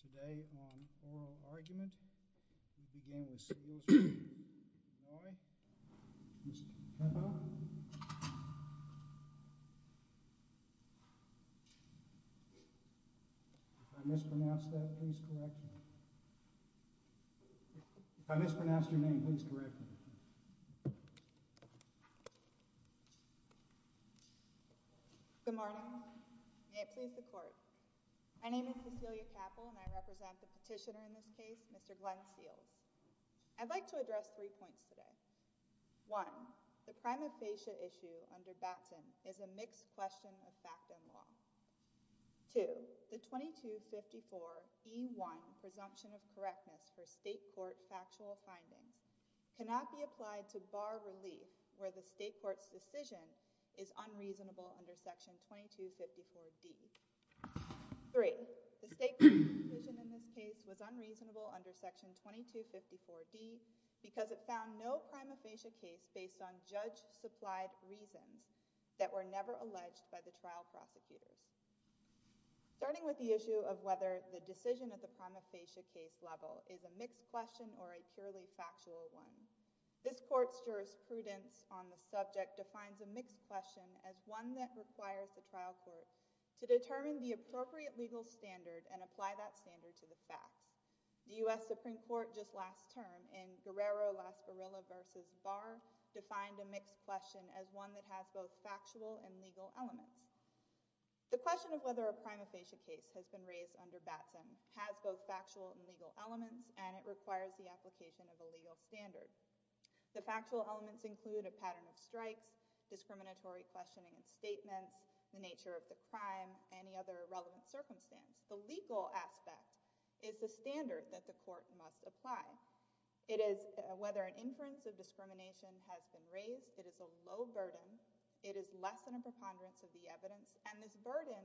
today on Oral Argument. We begin with Seals v. Vannoy. Ms. Cappell? If I mispronounced that, please correct me. If I mispronounced your name, please correct me. Good morning. May it please the court. My name is Cecilia Cappell and I represent the petitioner in this case, Mr. Glenn Seals. I'd like to address three points today. One, the prima facie issue under Batson is a mixed question of fact and law. Two, the 2254E1 presumption of correctness for state court factual findings cannot be applied to bar relief where the state court's decision is unreasonable under section 2254D. Three, the state court's decision in this case was unreasonable under section 2254D because it found no prima facie case based on judge-supplied reasons that were never alleged by the trial prosecutors. Starting with the issue of whether the decision at the prima facie case level is a mixed question or a purely factual one, this court's jurisprudence on the subject defines a mixed question as one that requires the trial court to determine the appropriate legal standard and apply that standard to the facts. The U.S. Supreme Court just last term in Guerrero-Las Gorillas v. Barr defined a mixed question as one that has both factual and legal elements. The question of whether a prima facie case has been raised under Batson has both factual and legal elements and it requires the application of a legal standard. The factual elements include a pattern of strikes, discriminatory questioning and statements, the nature of the crime, any other relevant circumstance. The legal aspect is the standard that the determination has been raised. It is a low burden. It is less than a preponderance of the evidence and this burden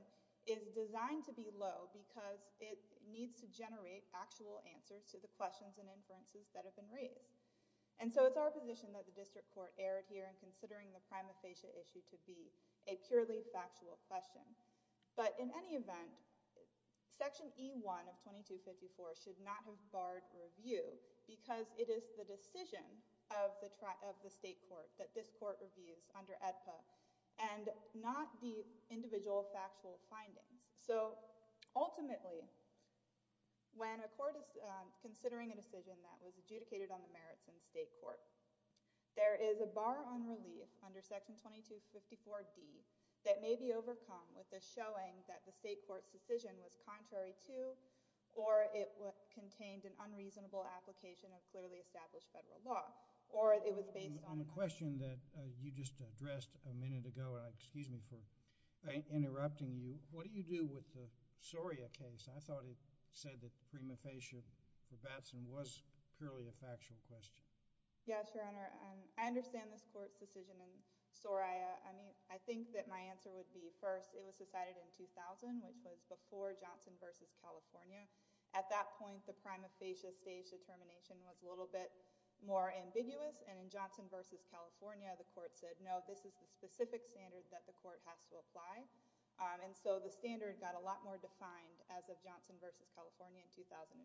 is designed to be low because it needs to generate actual answers to the questions and inferences that have been raised. And so it's our position that the district court erred here in considering the prima facie issue to be a purely factual question. But in any event, section E1 of 2254 should not have barred review because it is the decision of the state court that this court reviews under AEDPA and not the individual factual findings. So ultimately, when a court is considering a decision that was adjudicated on the merits in state court, there is a bar on relief under section 2254D that may be overcome with the showing that the state court's decision was contrary to statute or it contained an unreasonable application of clearly established federal law or it was based on... On the question that you just addressed a minute ago, excuse me for interrupting you, what do you do with the Soria case? I thought it said that prima facie or the Batson was purely a factual question. Yes, Your Honor. I understand this court's decision in Soria. I think that my answer would be first, it was decided in 2000, which was before Johnson v. California. At that point, the prima facie stage determination was a little bit more ambiguous. And in Johnson v. California, the court said, no, this is the specific standard that the court has to apply. And so the standard got a lot more defined as of Johnson v. California in 2005.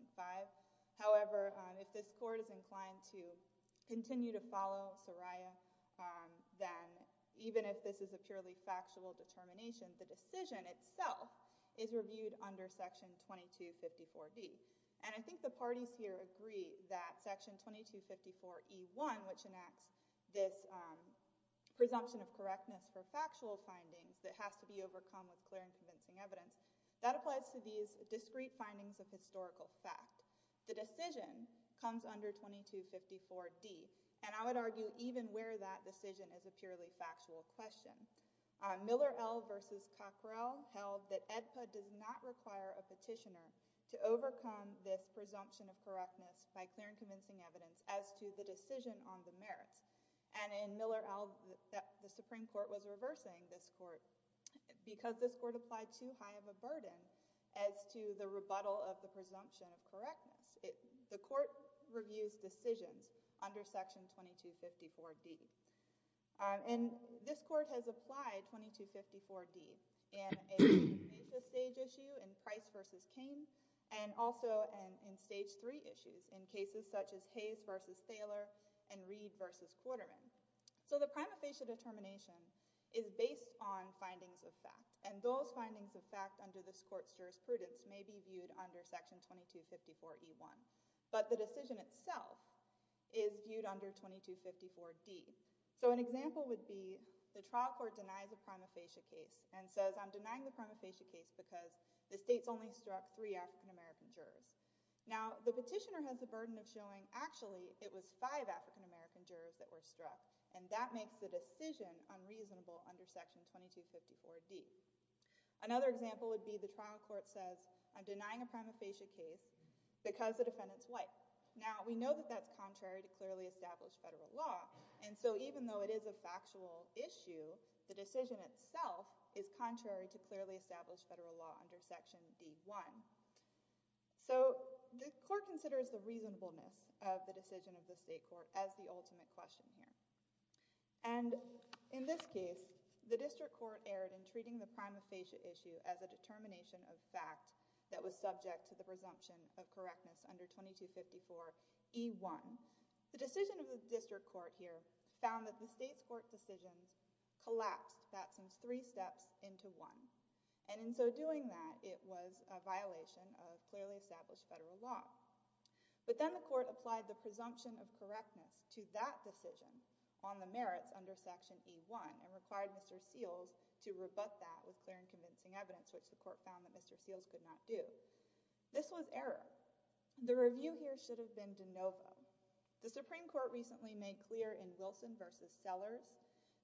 However, if this court is inclined to continue to follow Soria, then even if this is a purely factual determination, the decision itself is reviewed under Section 2254D. And I think the parties here agree that Section 2254E1, which enacts this presumption of correctness for factual findings that has to be overcome with clear and convincing evidence, that applies to these discrete findings of historical fact. The decision comes under 2254D. And I would say that Miller L. v. Cockrell held that AEDPA does not require a petitioner to overcome this presumption of correctness by clear and convincing evidence as to the decision on the merits. And in Miller L., the Supreme Court was reversing this court because this court applied too high of a burden as to the rebuttal of the presumption of correctness. The court reviews decisions under Section 2254D. And this court has applied 2254D in a two-phase stage issue in Price v. King and also in stage three issues in cases such as Hayes v. Thaler and Reed v. Quarterman. So the prima facie determination is based on findings of fact. And those findings of fact under this court's jurisprudence may be viewed under Section 2254E1. But the decision itself is viewed under 2254D. So an example would be the trial court denies a prima facie case and says I'm denying the prima facie case because the state's only struck three African-American jurors. Now, the petitioner has the burden of showing actually it was five African-American jurors that were struck. And that makes the decision unreasonable under Section 2254D. Another example would be the trial court says I'm denying a prima facie case because the defendant's white. Now, we know that that's contrary to clearly established federal law. And so even though it is a factual issue, the decision itself is contrary to clearly established federal law under Section D1. So the court considers the reasonableness of the decision of the state court as the ultimate question here. And in this case, the district court erred in treating the prima facie determination of fact that was subject to the presumption of correctness under 2254E1. The decision of the district court here found that the state's court decisions collapsed that three steps into one. And in so doing that, it was a violation of clearly established federal law. But then the court applied the presumption of correctness to that decision on the merits under Section E1 and required Mr. Seals to rebut that with clear and convincing evidence, which the court found that Mr. Seals could not do. This was error. The review here should have been de novo. The Supreme Court recently made clear in Wilson v. Sellers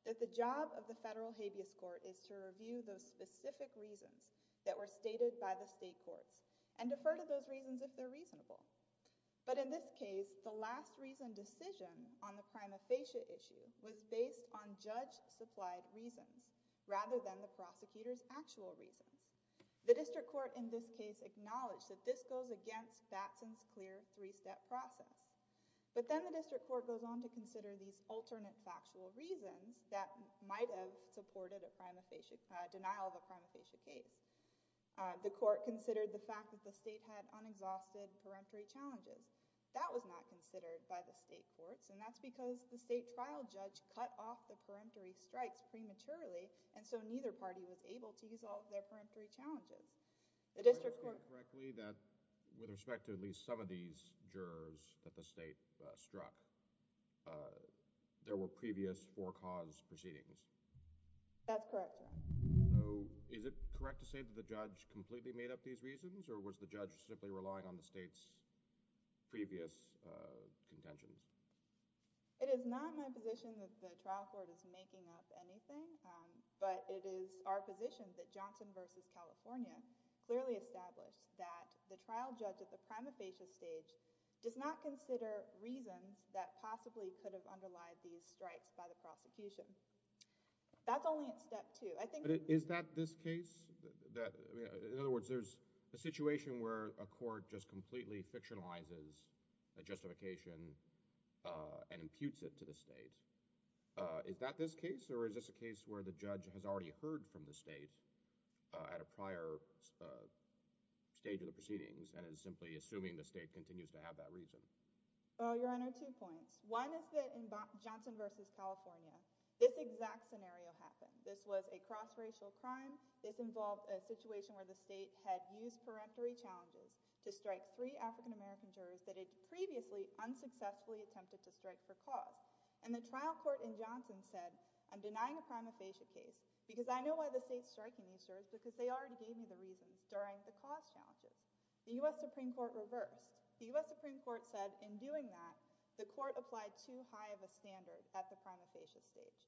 that the job of the federal habeas court is to review those specific reasons that were stated by the state courts and defer to those reasons if they're reasonable. But in this case, the last reason decision on the prima facie issue was based on judge-supplied reasons rather than the prosecutor's actual reasons. The district court in this case acknowledged that this goes against Batson's clear three-step process. But then the district court goes on to consider these alternate factual reasons that might have supported a denial of a prima facie case. The court considered the fact that the state had unexhausted peremptory challenges. That was not considered by the state courts, and that's because the state trial judge cut off the peremptory strikes prematurely, and so neither party was able to use all of their peremptory challenges. The district court— Are you saying correctly that with respect to at least some of these jurors that the state struck, there were previous for-cause proceedings? That's correct, Your Honor. So is it correct to say that the judge completely made up these reasons, or was the judge simply relying on the state's previous contentions? It is not my position that the trial court is making up anything, but it is our position that Johnson v. California clearly established that the trial judge at the prima facie stage does not consider reasons that possibly could have underlied these strikes by the prosecution. That's only at step two. I think— But is that this case? In other words, there's a situation where a court just completely fictionalizes a justification and imputes it to the state. Is that this case, or is this a case where the judge has already heard from the state at a prior stage of the proceedings and is simply assuming the state continues to have that reason? Your Honor, two points. One is that in Johnson v. California, this exact scenario happened. This was a cross-racial crime. This involved a situation where the state had used peremptory challenges to strike three African-American jurors that it previously unsuccessfully attempted to strike for cause. And the trial court in Johnson said, I'm denying a prima facie case because I know why the state's striking these jurors because they already gave me the reasons during the cause challenges. The U.S. Supreme Court reversed. The U.S. Supreme Court said in doing that, the court applied too high of a standard at the prima facie stage.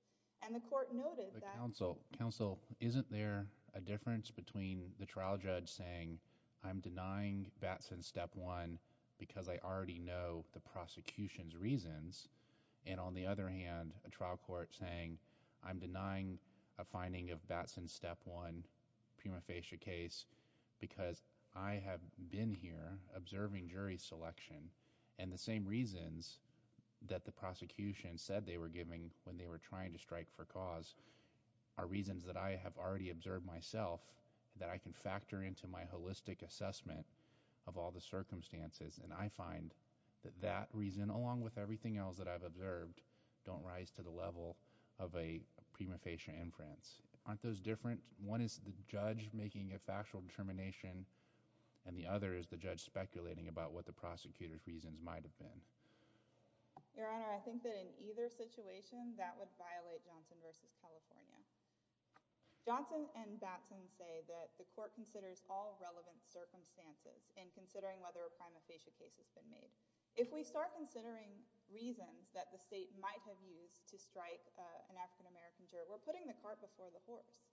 And the court noted that— Counsel, isn't there a difference between the trial judge saying, I'm denying Batson Step 1 because I already know the prosecution's reasons, and on the other hand, a trial court saying, I'm denying a finding of Batson Step 1 prima facie case because I have been here observing jury selection and the same reasons that the prosecution said they were giving when they were trying to strike for cause are reasons that I have already observed myself that I can factor into my holistic assessment of all the circumstances. And I find that that reason, along with everything else that I've observed, don't rise to the level of a prima facie inference. Aren't those different? One is the judge making a factual determination, and the other is the judge speculating about what the prosecutor's reasons might have been. Your Honor, I think that in either situation, that would violate Johnson v. California. Johnson and Batson say that the court considers all relevant circumstances in considering whether a prima facie case has been made. If we start considering reasons that the state might have used to strike an African-American juror, we're putting the cart before the horse.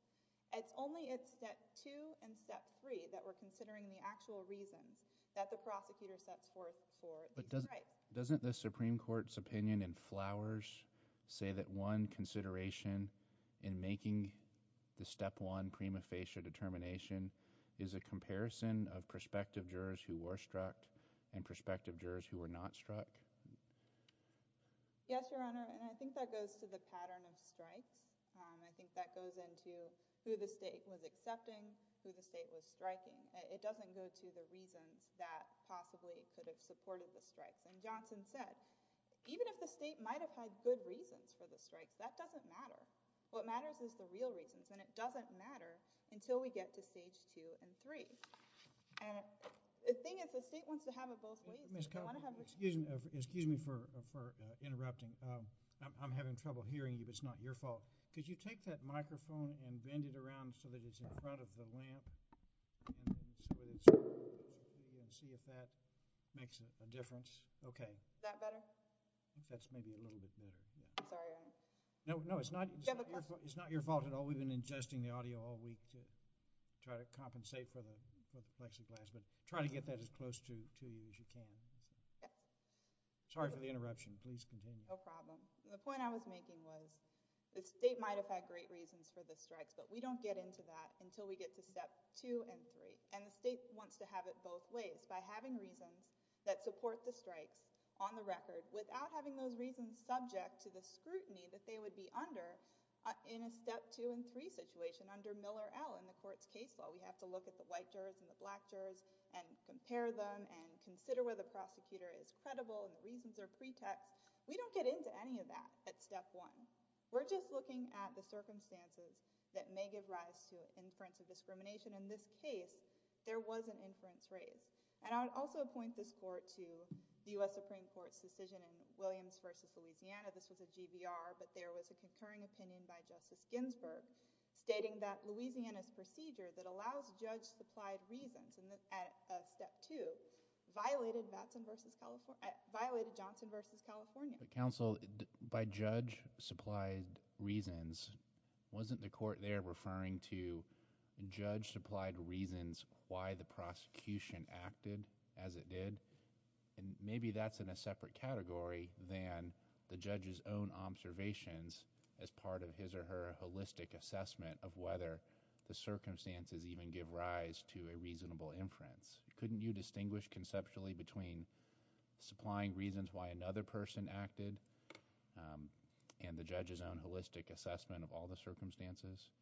It's only at Step 2 and Step 3 that we're considering the actual reasons that the prosecutor sets forth for each strike. But doesn't the Supreme Court's opinion in Flowers say that one consideration in making the Step 1 prima facie determination is a comparison of prospective jurors who were struck and prospective jurors who were not struck? Yes, Your Honor, and I think that goes to the pattern of strikes. I think that goes into who the state was accepting, who the state was striking. It doesn't go to the reasons that possibly could have supported the strikes. And Johnson said, even if the state might have had good reasons for the strikes, that doesn't matter. What matters is the real reasons, and it doesn't matter until we get to Stage 2 and 3. And the thing is, the state wants to have it both ways. Excuse me for interrupting. I'm having trouble hearing you, but it's not your fault. Could you take that microphone and bend it around so that it's in front of the lamp? See if that makes a difference. Okay. Is that better? I think that's maybe a little bit better. Sorry, Your Honor. No, it's not your fault at all. We've been ingesting the audio all week to try to compensate for the plexiglass, but try to get that as close to you as you can. Sorry for the interruption. Please continue. No problem. The point I was making was the state might have had great reasons for the strikes, but we don't get into that until we get to Step 2 and 3. And the state wants to have it both ways by having reasons that support the strikes on the record without having those reasons subject to the scrutiny that they would be under in a Step 2 and 3 situation under Miller L. in the court's case law. We have to look at the white jurors and the black jurors and compare them and consider whether the prosecutor is credible and the reasons are pretext. We don't get into any of that at Step 1. We're just looking at the circumstances that may give rise to inference of discrimination. In this case, there was an inference raised. And I would also point this court to the U.S. Supreme Court's decision in Williams v. Louisiana. This was a GBR, but there was a concurring opinion by Justice Ginsburg stating that But, counsel, by judge-supplied reasons, wasn't the court there referring to judge-supplied reasons why the prosecution acted as it did? And maybe that's in a separate category than the judge's own observations as part of his or her holistic assessment of whether the circumstances even give rise to a reasonable inference. Couldn't you distinguish conceptually between supplying reasons why another person acted and the judge's own holistic assessment of all the circumstances?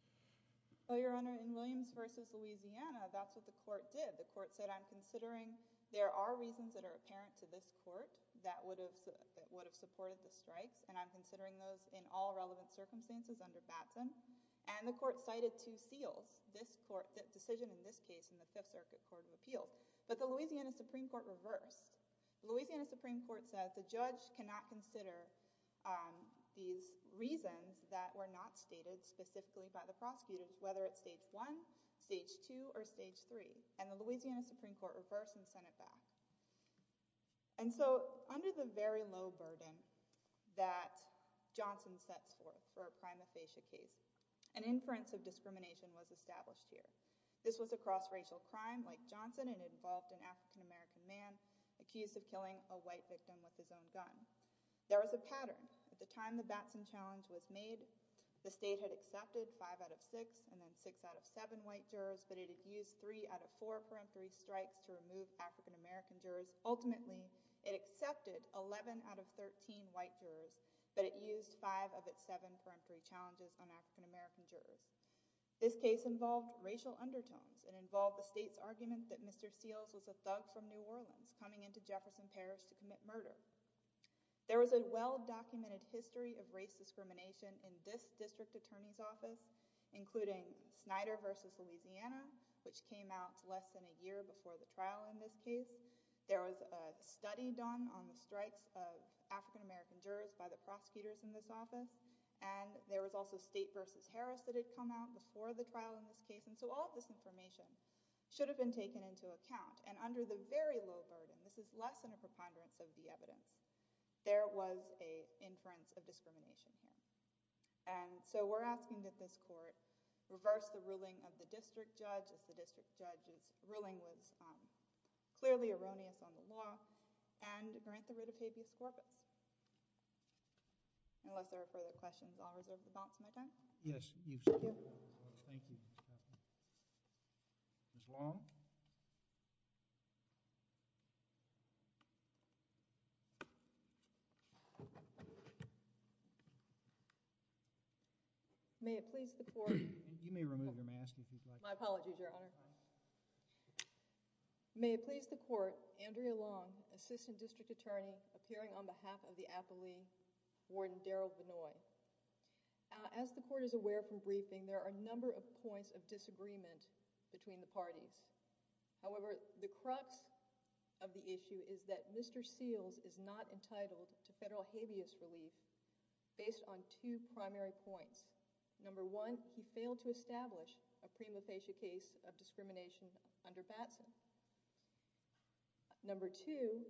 Well, Your Honor, in Williams v. Louisiana, that's what the court did. The court said, I'm considering there are reasons that are apparent to this court that would have supported the strikes, and I'm considering those in all relevant circumstances under Batson. And the court cited two seals, the decision in this case in the Fifth Circuit Court of Appeal. But the Louisiana Supreme Court reversed. The Louisiana Supreme Court said the judge cannot consider these reasons that were not stated specifically by the prosecutors, whether it's Stage 1, Stage 2, or Stage 3. And the Louisiana Supreme Court reversed and sent it back. And so under the very low burden that Johnson sets forth for a prima facie case, an inference of discrimination was established here. This was a cross-racial crime like Johnson, and it involved an African-American man accused of killing a white victim with his own gun. There was a pattern. At the time the Batson challenge was made, the state had accepted 5 out of 6 and then 6 out of 7 white jurors, but it had used 3 out of 4 for M3 strikes to remove African-American jurors. Ultimately, it accepted 11 out of 13 white jurors, but it used 5 of its 7 for M3 challenges on African-American jurors. This case involved racial undertones. It involved the state's argument that Mr. Seals was a thug from New Orleans coming into Jefferson Parish to commit murder. There was a well-documented history of race discrimination in this district attorney's office, including Snyder v. Louisiana, which came out less than a year before the trial in this case. There was a study done on the strikes of African-American jurors by the prosecutors in this office, and there was also State v. Harris that had come out before the trial in this case, and so all of this information should have been taken into account. And under the very low burden, this is less than a preponderance of the evidence, there was an inference of discrimination here. And so we're asking that this court reverse the ruling of the district judge, if the district judge's ruling was clearly erroneous on the law, and grant the writ of habeas corpus. Unless there are further questions, I'll reserve the balance of my time. Yes, you should. Thank you. Ms. Long? May it please the court— You may remove your mask if you'd like. My apologies, Your Honor. May it please the court, Andrea Long, Assistant District Attorney, appearing on behalf of the affilee, Warden Daryl Vinoy. As the court is aware from briefing, there are a number of points of disagreement between the parties. However, the crux of the issue is that Mr. Seals is not entitled to federal habeas relief based on two primary points. Number one, he failed to establish a prima facie case of discrimination under BATSA. Number two,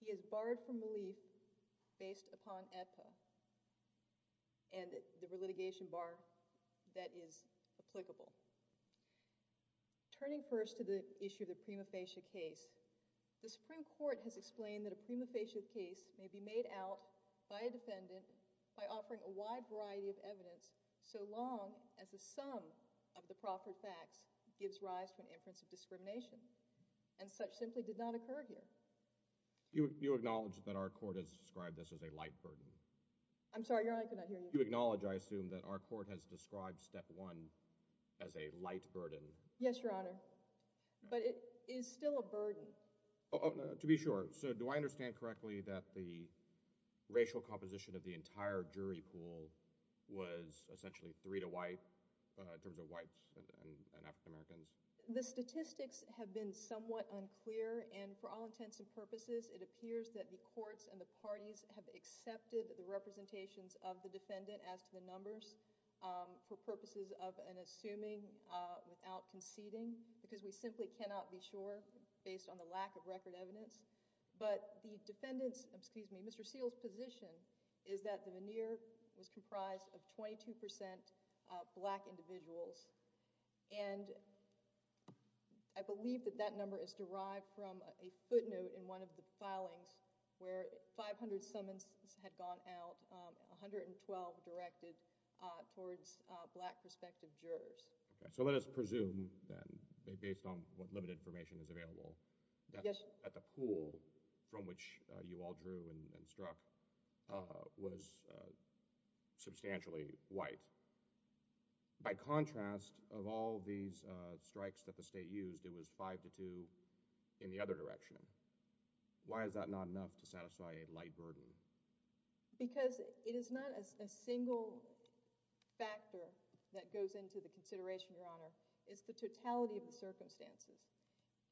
he is barred from relief based upon AEDPA and the litigation bar that is applicable. Turning first to the issue of the prima facie case, the Supreme Court has explained that a prima facie case may be made out by a defendant by offering a wide variety of evidence so long as the sum of the proffered facts gives rise to an inference of discrimination. And such simply did not occur here. You acknowledge that our court has described this as a light burden? I'm sorry, Your Honor, I could not hear you. You acknowledge, I assume, that our court has described Step 1 as a light burden? Yes, Your Honor. But it is still a burden. To be sure, so do I understand correctly that the racial composition of the entire jury pool was essentially three to white, in terms of whites and African Americans? The statistics have been somewhat unclear, and for all intents and purposes, it appears that the courts and the parties have accepted the representations of the defendant as to the numbers for purposes of an assuming without conceding, because we simply cannot be sure based on the lack of record evidence. But the defendant's, excuse me, Mr. Seale's position is that the veneer was comprised of 22% black individuals, and I believe that that number is derived from a footnote in one of the filings where 500 summons had gone out, 112 directed towards black prospective jurors. So let us presume then, based on what limited information is available, that the pool from which you all drew and struck was substantially white. By contrast, of all these strikes that the state used, it was five to two in the other direction. Why is that not enough to satisfy a light verdict? Because it is not a single factor that goes into the consideration, Your Honor. It's the totality of the circumstances,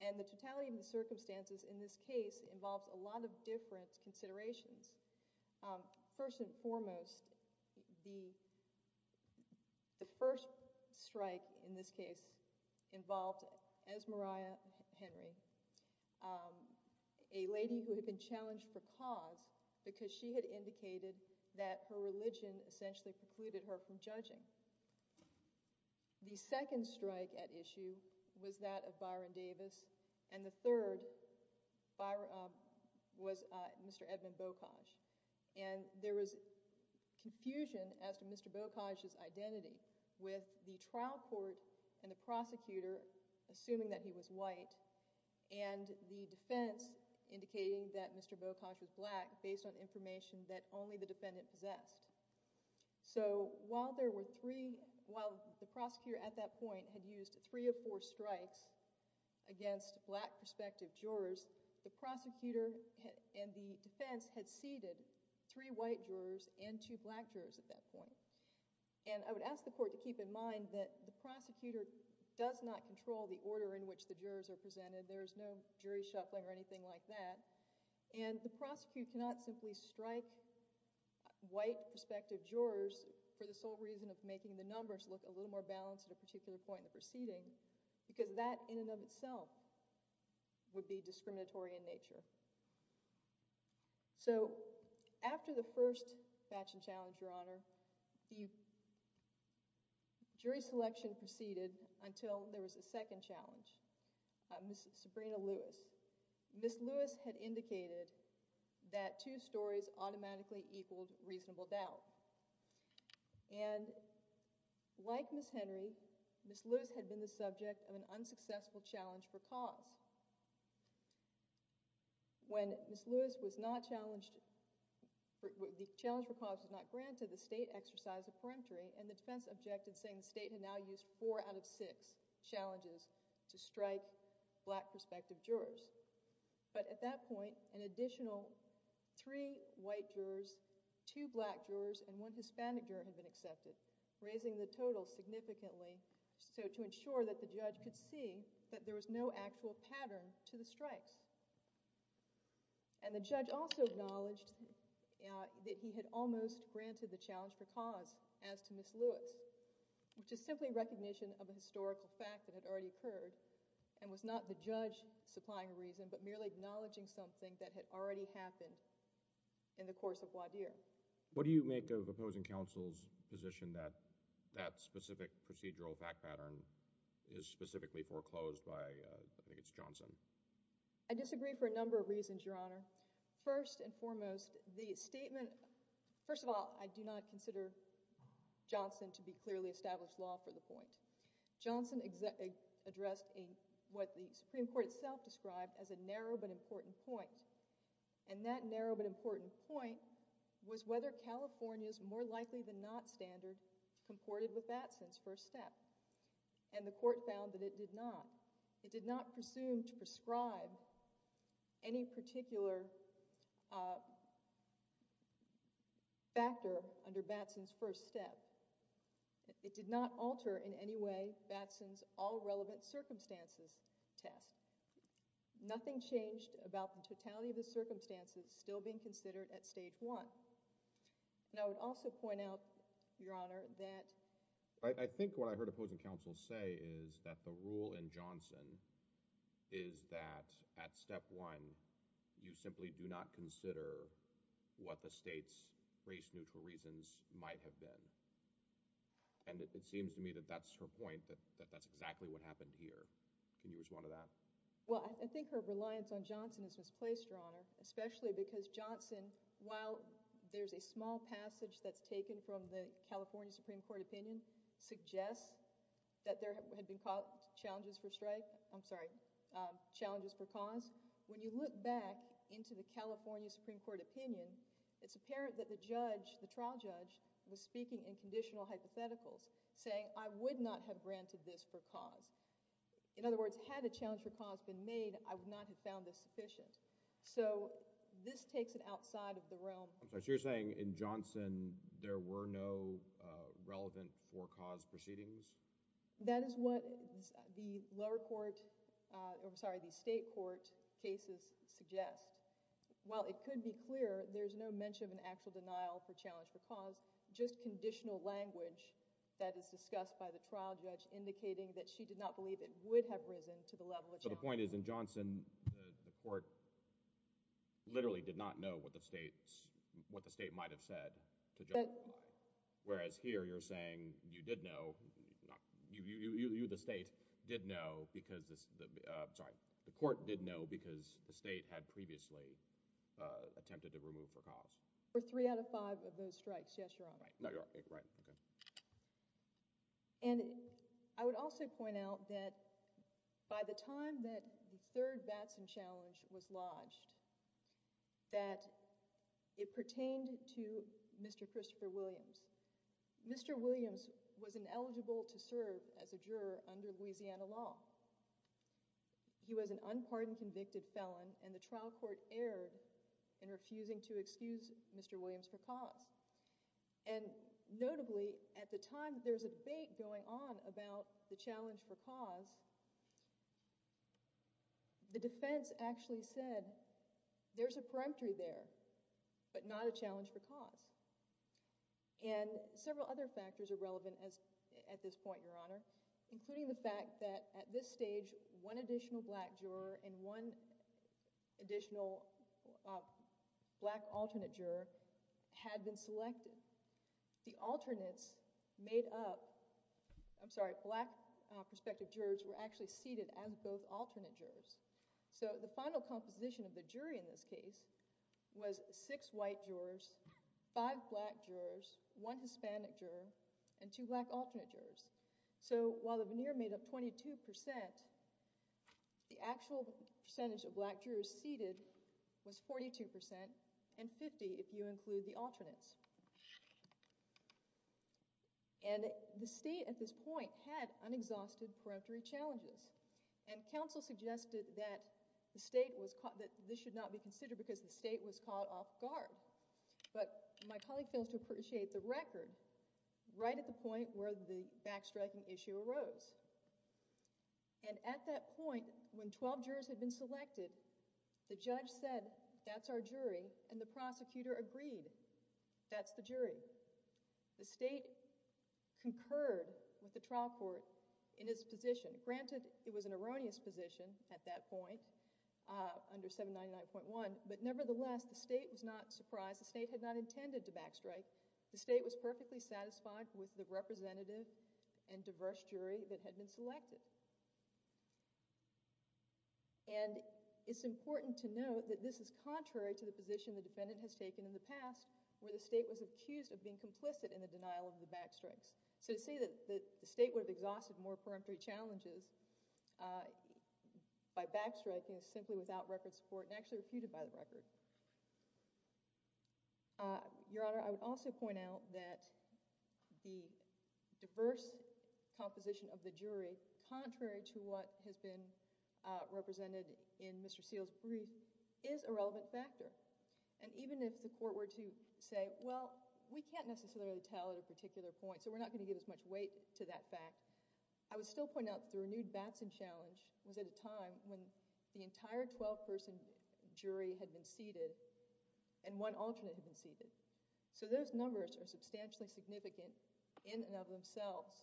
and the totality of the circumstances in this case involves a lot of different considerations. First and foremost, the first strike in this case involved, as Mariah Henry, a lady who had been challenged for cause because she had indicated that her religion essentially precluded her from judging. The second strike at issue was that of Byron Davis, and the third was Mr. Edmund Bokaj. And there was confusion as to Mr. Bokaj's identity with the trial court and the prosecutor assuming that he was white and the defense indicating that Mr. Bokaj was black based on information that only the defendant possessed. So while the prosecutor at that point had used three or four strikes against black prospective jurors, the prosecutor and the defense had seated three white jurors and two black jurors at that point. And I would ask the court to keep in mind that the prosecutor does not control the order in which the jurors are presented. There is no jury shuffling or anything like that. And the prosecutor cannot simply strike white prospective jurors for the sole reason of making the numbers look a little more balanced at a particular point in the proceeding, because that in and of itself would be discriminatory in nature. So after the first batch and challenge, Your Honor, the jury selection proceeded until there was a second challenge. Ms. Sabrina Lewis. Ms. Lewis had indicated that two stories automatically equaled reasonable doubt. And like Ms. Henry, Ms. Lewis had been the subject of an unsuccessful challenge for cause. When Ms. Lewis was not challenged, the challenge for cause was not granted, the state exercised a peremptory, and the defense objected, saying the state had now used four out of six challenges to strike black prospective jurors. But at that point, an additional three white jurors, two black jurors, and one Hispanic juror had been accepted, raising the total significantly to ensure that the judge could see that there was no actual pattern to the strikes. And the judge also acknowledged that he had almost granted the challenge for cause as to Ms. Lewis. Which is simply recognition of a historical fact that had already occurred, and was not the judge supplying a reason, but merely acknowledging something that had already happened in the course of Wadir. What do you make of opposing counsel's position that that specific procedural fact pattern is specifically foreclosed by, I think it's Johnson? I disagree for a number of reasons, Your Honor. First and foremost, the statement, first of all, I do not consider Johnson to be clearly established law for the point. Johnson addressed what the Supreme Court itself described as a narrow but important point. And that narrow but important point was whether California's more likely than not standard comported with Batson's first step. And the court found that it did not. It did not presume to prescribe any particular factor under Batson's first step. It did not alter in any way Batson's all relevant circumstances test. Nothing changed about the totality of the circumstances still being considered at stage one. And I would also point out, Your Honor, that I think what I heard opposing counsel say is that the rule in Johnson is that at step one, you simply do not consider what the state's race-neutral reasons might have been. And it seems to me that that's her point, that that's exactly what happened here. Can you respond to that? Well, I think her reliance on Johnson is misplaced, Your Honor, especially because Johnson, while there's a small passage that's taken from the California Supreme Court opinion, suggests that there had been challenges for cause. When you look back into the California Supreme Court opinion, it's apparent that the judge, the trial judge, was speaking in conditional hypotheticals, saying, I would not have granted this for cause. In other words, had a challenge for cause been made, I would not have found this sufficient. So this takes it outside of the realm. So you're saying in Johnson, there were no relevant for cause proceedings? That is what the lower court, I'm sorry, the state court cases suggest. While it could be clear, there's no mention of an actual denial for challenge for cause, just conditional language that is discussed by the trial judge indicating that she did not believe it would have risen to the level of challenge. So the point is, in Johnson, the court literally did not know what the state might have said to judge. Whereas here, you're saying you did know, you, the state, did know because, I'm sorry, the court did know because the state had previously attempted to remove for cause. For three out of five of those strikes, yes, you're right. No, you're right, okay. And I would also point out that by the time that the third Batson challenge was lodged, that it pertained to Mr. Christopher Williams. Mr. Williams was ineligible to serve as a juror under Louisiana law. He was an unpardoned convicted felon and the trial court erred in refusing to excuse Mr. Williams for cause. And notably, at the time, there was a debate going on about the challenge for cause. The defense actually said, there's a peremptory there, but not a challenge for cause. And several other factors are relevant at this point, Your Honor, including the fact that at this stage, one additional black juror and one additional black alternate juror had been selected. The alternates made up... I'm sorry, black prospective jurors were actually seated as both alternate jurors. So the final composition of the jury in this case was six white jurors, five black jurors, one Hispanic juror, and two black alternate jurors. So while the veneer made up 22%, the actual percentage of black jurors seated was 42%, and 50% if you include the alternates. And the state at this point had unexhausted peremptory challenges. And counsel suggested that this should not be considered because the state was caught off guard. But my colleague fails to appreciate the record, right at the point where the backstriking issue arose. And at that point, when 12 jurors had been selected, the judge said, that's our jury, and the prosecutor agreed, that's the jury. The state concurred with the trial court in its position. Granted, it was an erroneous position at that point, under 799.1, but nevertheless, the state was not surprised. The state had not intended to backstrike. The state was perfectly satisfied with the representative and diverse jury that had been selected. And it's important to note that this is contrary to the position the defendant has taken in the past, where the state was accused of being complicit in the denial of the backstrikes. So to say that the state would have exhausted more peremptory challenges by backstriking is simply without record support, and actually refuted by the record. Your Honor, I would also point out that the diverse composition of the jury contrary to what has been represented in Mr. Seale's brief is a relevant factor. And even if the court were to say, well, we can't necessarily tell at a particular point, so we're not going to give as much weight to that fact, I would still point out that the renewed Batson challenge was at a time when the entire 12-person jury had been seated, and one alternate had been seated. So those numbers are substantially significant in and of themselves.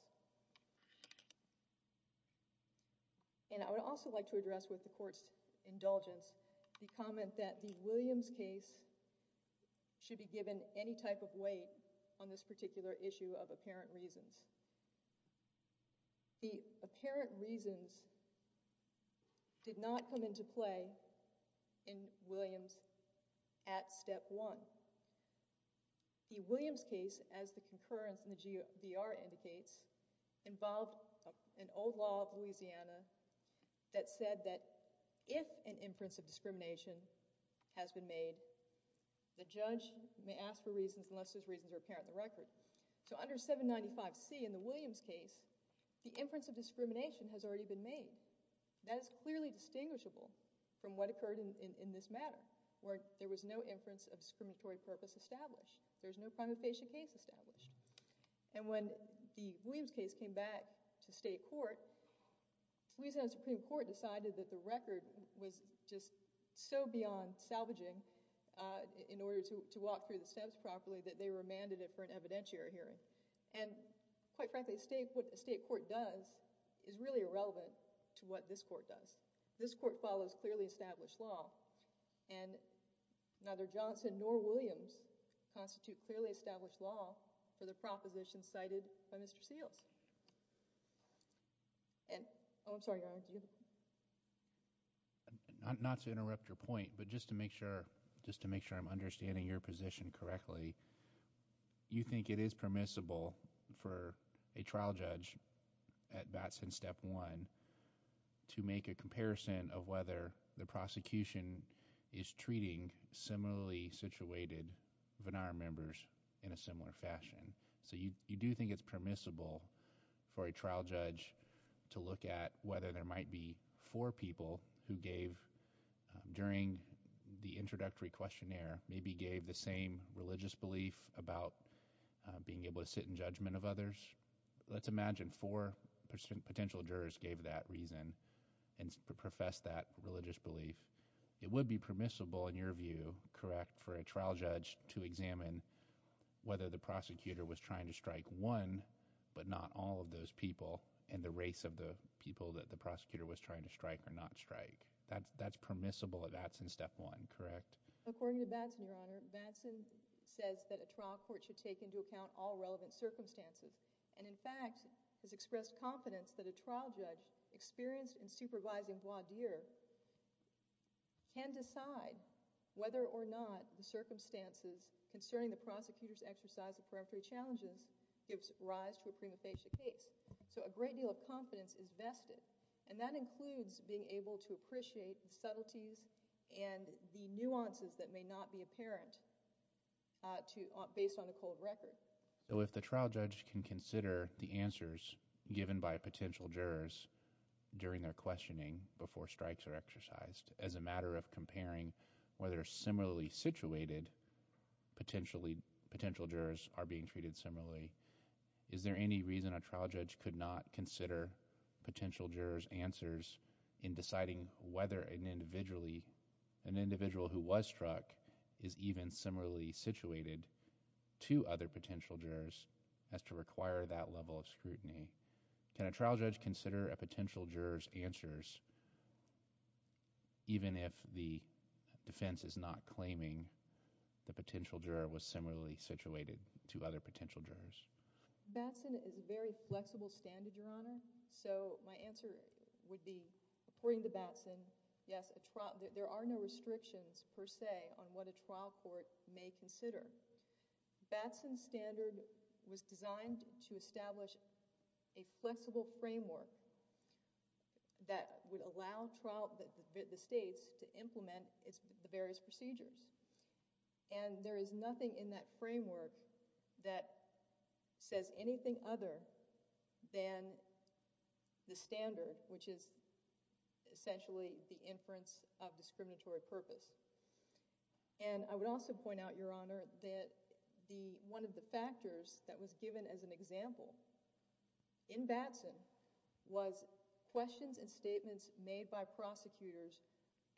And I would also like to address with the court's indulgence the comment that the Williams case should be given any type of weight on this particular issue of apparent reasons. The apparent reasons did not come into play in Williams at step one. The Williams case, as the concurrence in the GR indicates, involved an old law of Louisiana that said that if an inference of discrimination has been made, the judge may ask for reasons unless those reasons are apparent in the record. So under 795C in the Williams case, the inference of discrimination has already been made. That is clearly distinguishable from what occurred in this matter, where there was no inference of discriminatory purpose established. There's no prima facie case established. And when the Williams case came back to state court, Louisiana Supreme Court decided that the record was just so beyond salvaging in order to walk through the steps properly that they remanded it for an evidentiary hearing. And quite frankly, what a state court does is really irrelevant to what this court does. This court follows clearly established law, and neither Johnson nor Williams constitute clearly established law for the proposition cited by Mr. Seals. Not to interrupt your point, but just to make sure I'm understanding your position correctly, you think it is permissible for a trial judge at Batson step one to make a comparison of whether the prosecution is treating similarly situated Vannara members in a similar fashion? So you do think it's permissible for a trial judge to look at whether there might be four people who gave, during the introductory questionnaire, maybe gave the same religious belief about being able to sit in judgment of others? Let's imagine four potential jurors gave that reason and professed that religious belief. It would be permissible, in your view, correct, for a trial judge to examine whether the prosecutor was trying to strike one but not all of those people and the race of the people that the prosecutor was trying to strike or not strike. That's permissible at Batson step one, correct? According to Batson, Your Honor, Batson says that a trial court should take into account all relevant circumstances and, in fact, has expressed confidence that a trial judge experienced in supervising voir dire can decide whether or not the circumstances concerning the prosecutor's exercise of peremptory challenges gives rise to a prima facie case. So a great deal of confidence is vested and that includes being able to appreciate the subtleties and the nuances that may not be apparent based on a cold record. So if the trial judge can consider the answers given by potential jurors during their questioning before strikes are exercised as a matter of comparing whether similarly situated potential jurors are being treated similarly, is there any reason a trial judge could not consider potential jurors' answers in deciding whether an individual who was struck is even similarly situated to other potential jurors as to require that level of scrutiny? Can a trial judge consider a potential juror's answers even if the defense is not claiming the potential juror was similarly situated to other potential jurors? Batson is a very flexible standard, Your Honor. So my answer would be, according to Batson, yes, there are no restrictions, per se, on what a trial court may consider. Batson's standard was designed to establish a flexible framework that would allow the states to implement the various procedures. And there is nothing in that framework that says anything other than the standard, which is essentially the inference of discriminatory purpose. And I would also point out, Your Honor, that one of the factors that was given as an example in Batson was questions and statements made by prosecutors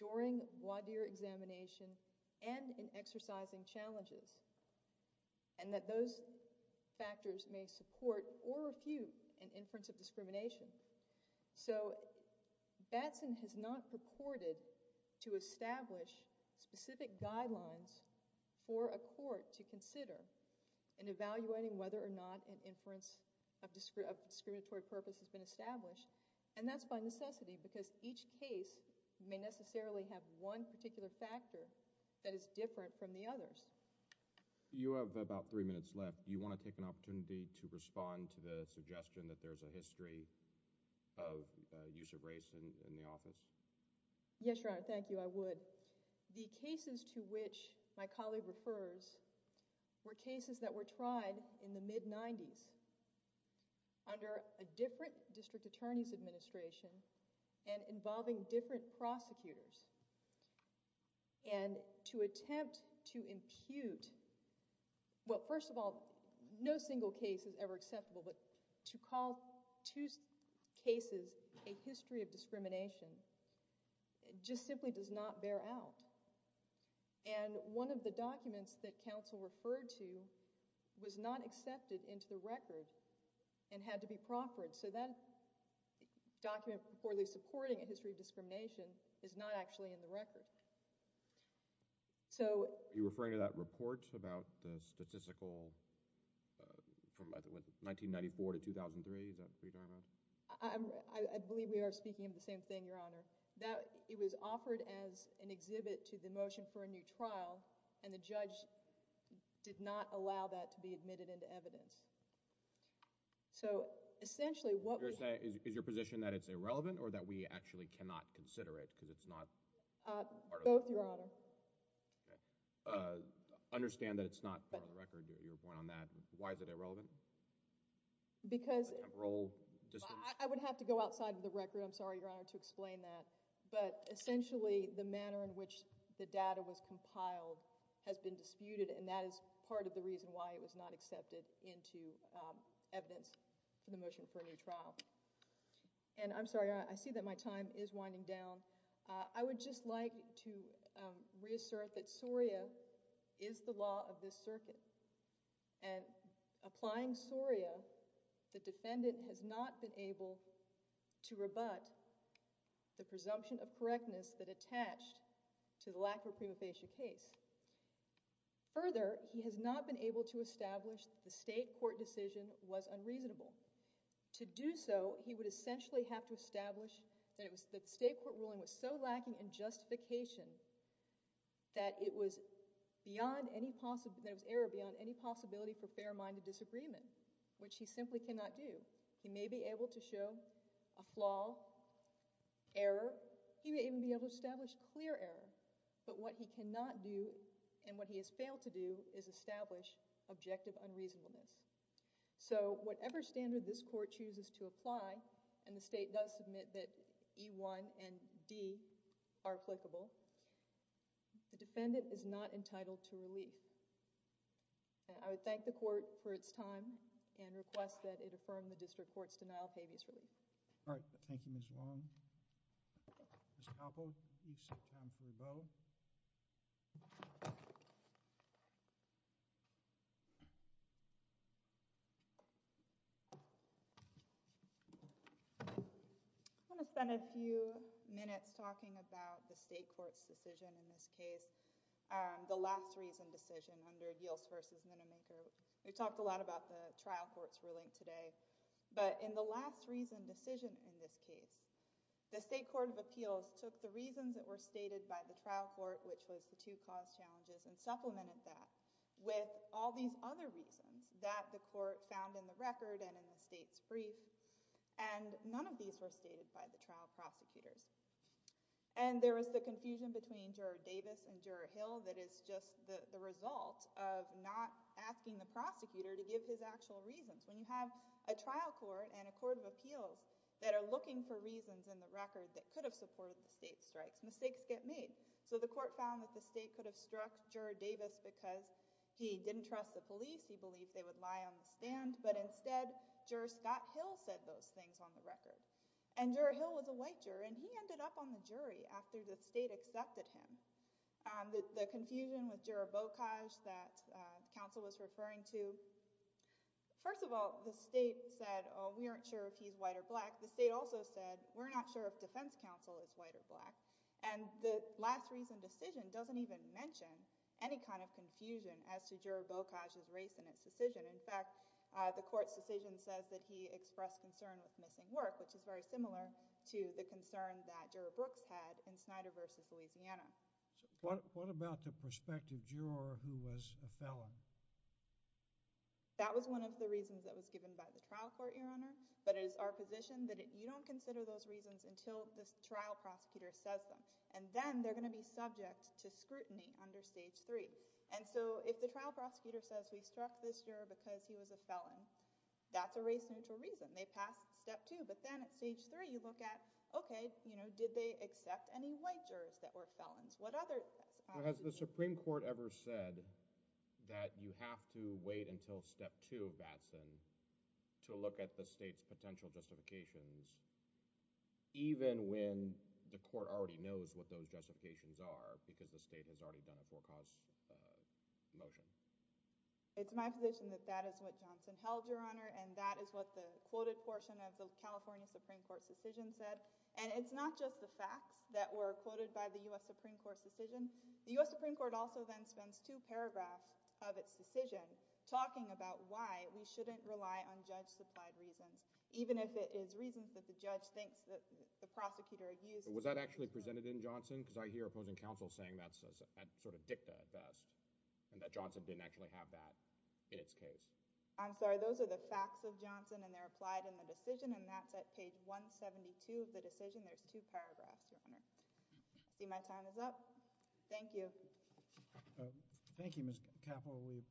during voir dire examination and in exercising challenges, and that those factors may support or refute an inference of discrimination. So Batson has not purported to establish specific guidelines for a court to consider in evaluating whether or not an inference of discriminatory purpose has been established, and that's by necessity because each case may necessarily have one particular factor that is different from the others. You have about three minutes left. Do you want to take an opportunity to respond to the suggestion that there's a history of use of race in the office? Yes, Your Honor, thank you, I would. The cases to which my colleague refers were cases that were tried in the mid-'90s under a different district attorney's administration and involving different prosecutors. And to attempt to impute, well, first of all, no single case is ever acceptable, but to call two cases a history of discrimination just simply does not bear out. And one of the documents that counsel referred to was not accepted into the record and had to be proffered. So that document purportedly supporting a history of discrimination is not actually in the record. So... Are you referring to that report about the statistical... 1994 to 2003, is that what you're talking about? I believe we are speaking of the same thing, Your Honor. It was offered as an exhibit to the motion for a new trial, and the judge did not allow that to be admitted into evidence. So essentially what we have... Is your position that it's irrelevant or that we actually cannot consider it because it's not... Both, Your Honor. Understand that it's not part of the record, your point on that. Why is it irrelevant? Because... I would have to go outside of the record. I'm sorry, Your Honor, to explain that. But essentially the manner in which the data was compiled has been disputed, and that is part of the reason why it was not accepted into evidence for the motion for a new trial. And I'm sorry, Your Honor, I see that my time is winding down. I would just like to reassert that SORIA is the law of this circuit. And applying SORIA, the defendant has not been able to rebut the presumption of correctness that attached to the lack of a prima facie case. Further, he has not been able to establish the state court decision was unreasonable. To do so, he would essentially have to establish that state court ruling was so lacking in justification that it was error beyond any possibility for fair-minded disagreement, which he simply cannot do. He may be able to show a flaw, error. He may even be able to establish clear error. But what he cannot do and what he has failed to do is establish objective unreasonableness. So whatever standard this court chooses to apply, and the state does submit that E-1 and D are applicable, the defendant is not entitled to relief. And I would thank the court for its time and request that it affirm the district court's denial of habeas relief. All right. Thank you, Ms. Long. Ms. Koppel, you sit down for a vote. I'm going to spend a few minutes talking about the state court's decision in this case, the last reason decision under Eales v. Minomenko. We talked a lot about the trial court's ruling today, but in the last reason decision in this case, the state court of appeals took the reasons that were stated by the trial court, which was the two cause challenges, and supplemented that with all these other reasons that the court found in the record and in the state's brief, and none of these were stated by the trial prosecutors. And there was the confusion between Juror Davis and Juror Hill that is just the result of not asking the prosecutor to give his actual reasons. When you have a trial court and a court of appeals that are looking for reasons in the record that could have supported the state's strikes, mistakes get made. So the court found that the state could have struck Juror Davis because he didn't trust the police, he believed they would lie on the stand, but instead Juror Scott Hill said those things on the record. And Juror Hill was a white juror, and he ended up on the jury after the state accepted him. The confusion with Juror Bokaj that counsel was referring to, first of all, the state said, oh, we aren't sure if he's white or black. The state also said, we're not sure if defense counsel is white or black. And the last reason decision doesn't even mention any kind of confusion as to Juror Bokaj's race in its decision. In fact, the court's decision says that he expressed concern with missing work, which is very similar to the concern that Juror Brooks had in Snyder v. Louisiana. What about the prospective juror who was a felon? That was one of the reasons that was given by the trial court, Your Honor. But it is our position that you don't consider those reasons until the trial prosecutor says them. And then they're going to be subject to scrutiny under Stage 3. And so if the trial prosecutor says, we struck this juror because he was a felon, that's a race-neutral reason. They passed Step 2. But then at Stage 3, you look at, okay, did they accept any white jurors that were felons? What other— Has the Supreme Court ever said that you have to wait until Step 2, Batson, to look at the state's potential justifications, even when the court already knows what those justifications are because the state has already done a forecast motion? It's my position that that is what Johnson held, Your Honor, and that is what the quoted portion of the California Supreme Court's decision said. And it's not just the facts that were quoted by the U.S. Supreme Court's decision. The U.S. Supreme Court also then spends two paragraphs of its decision talking about why we shouldn't rely on judge-supplied reasons, even if it is reasons that the judge thinks that the prosecutor— Was that actually presented in Johnson? Because I hear opposing counsel saying that's sort of dicta at best and that Johnson didn't actually have that in its case. I'm sorry. Those are the facts of Johnson, and they're applied in the decision, and that's at page 172 of the decision. There's two paragraphs, Your Honor. I see my time is up. Thank you. Thank you, Ms. Capil.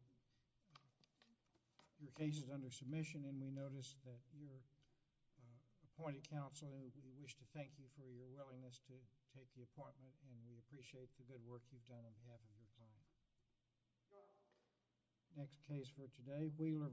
Your case is under submission, and we notice that you're appointed counsel, and we wish to thank you for your willingness to take the appointment, and we appreciate the good work you've done on behalf of your client. Next case for today, Weaver v. O'Connor.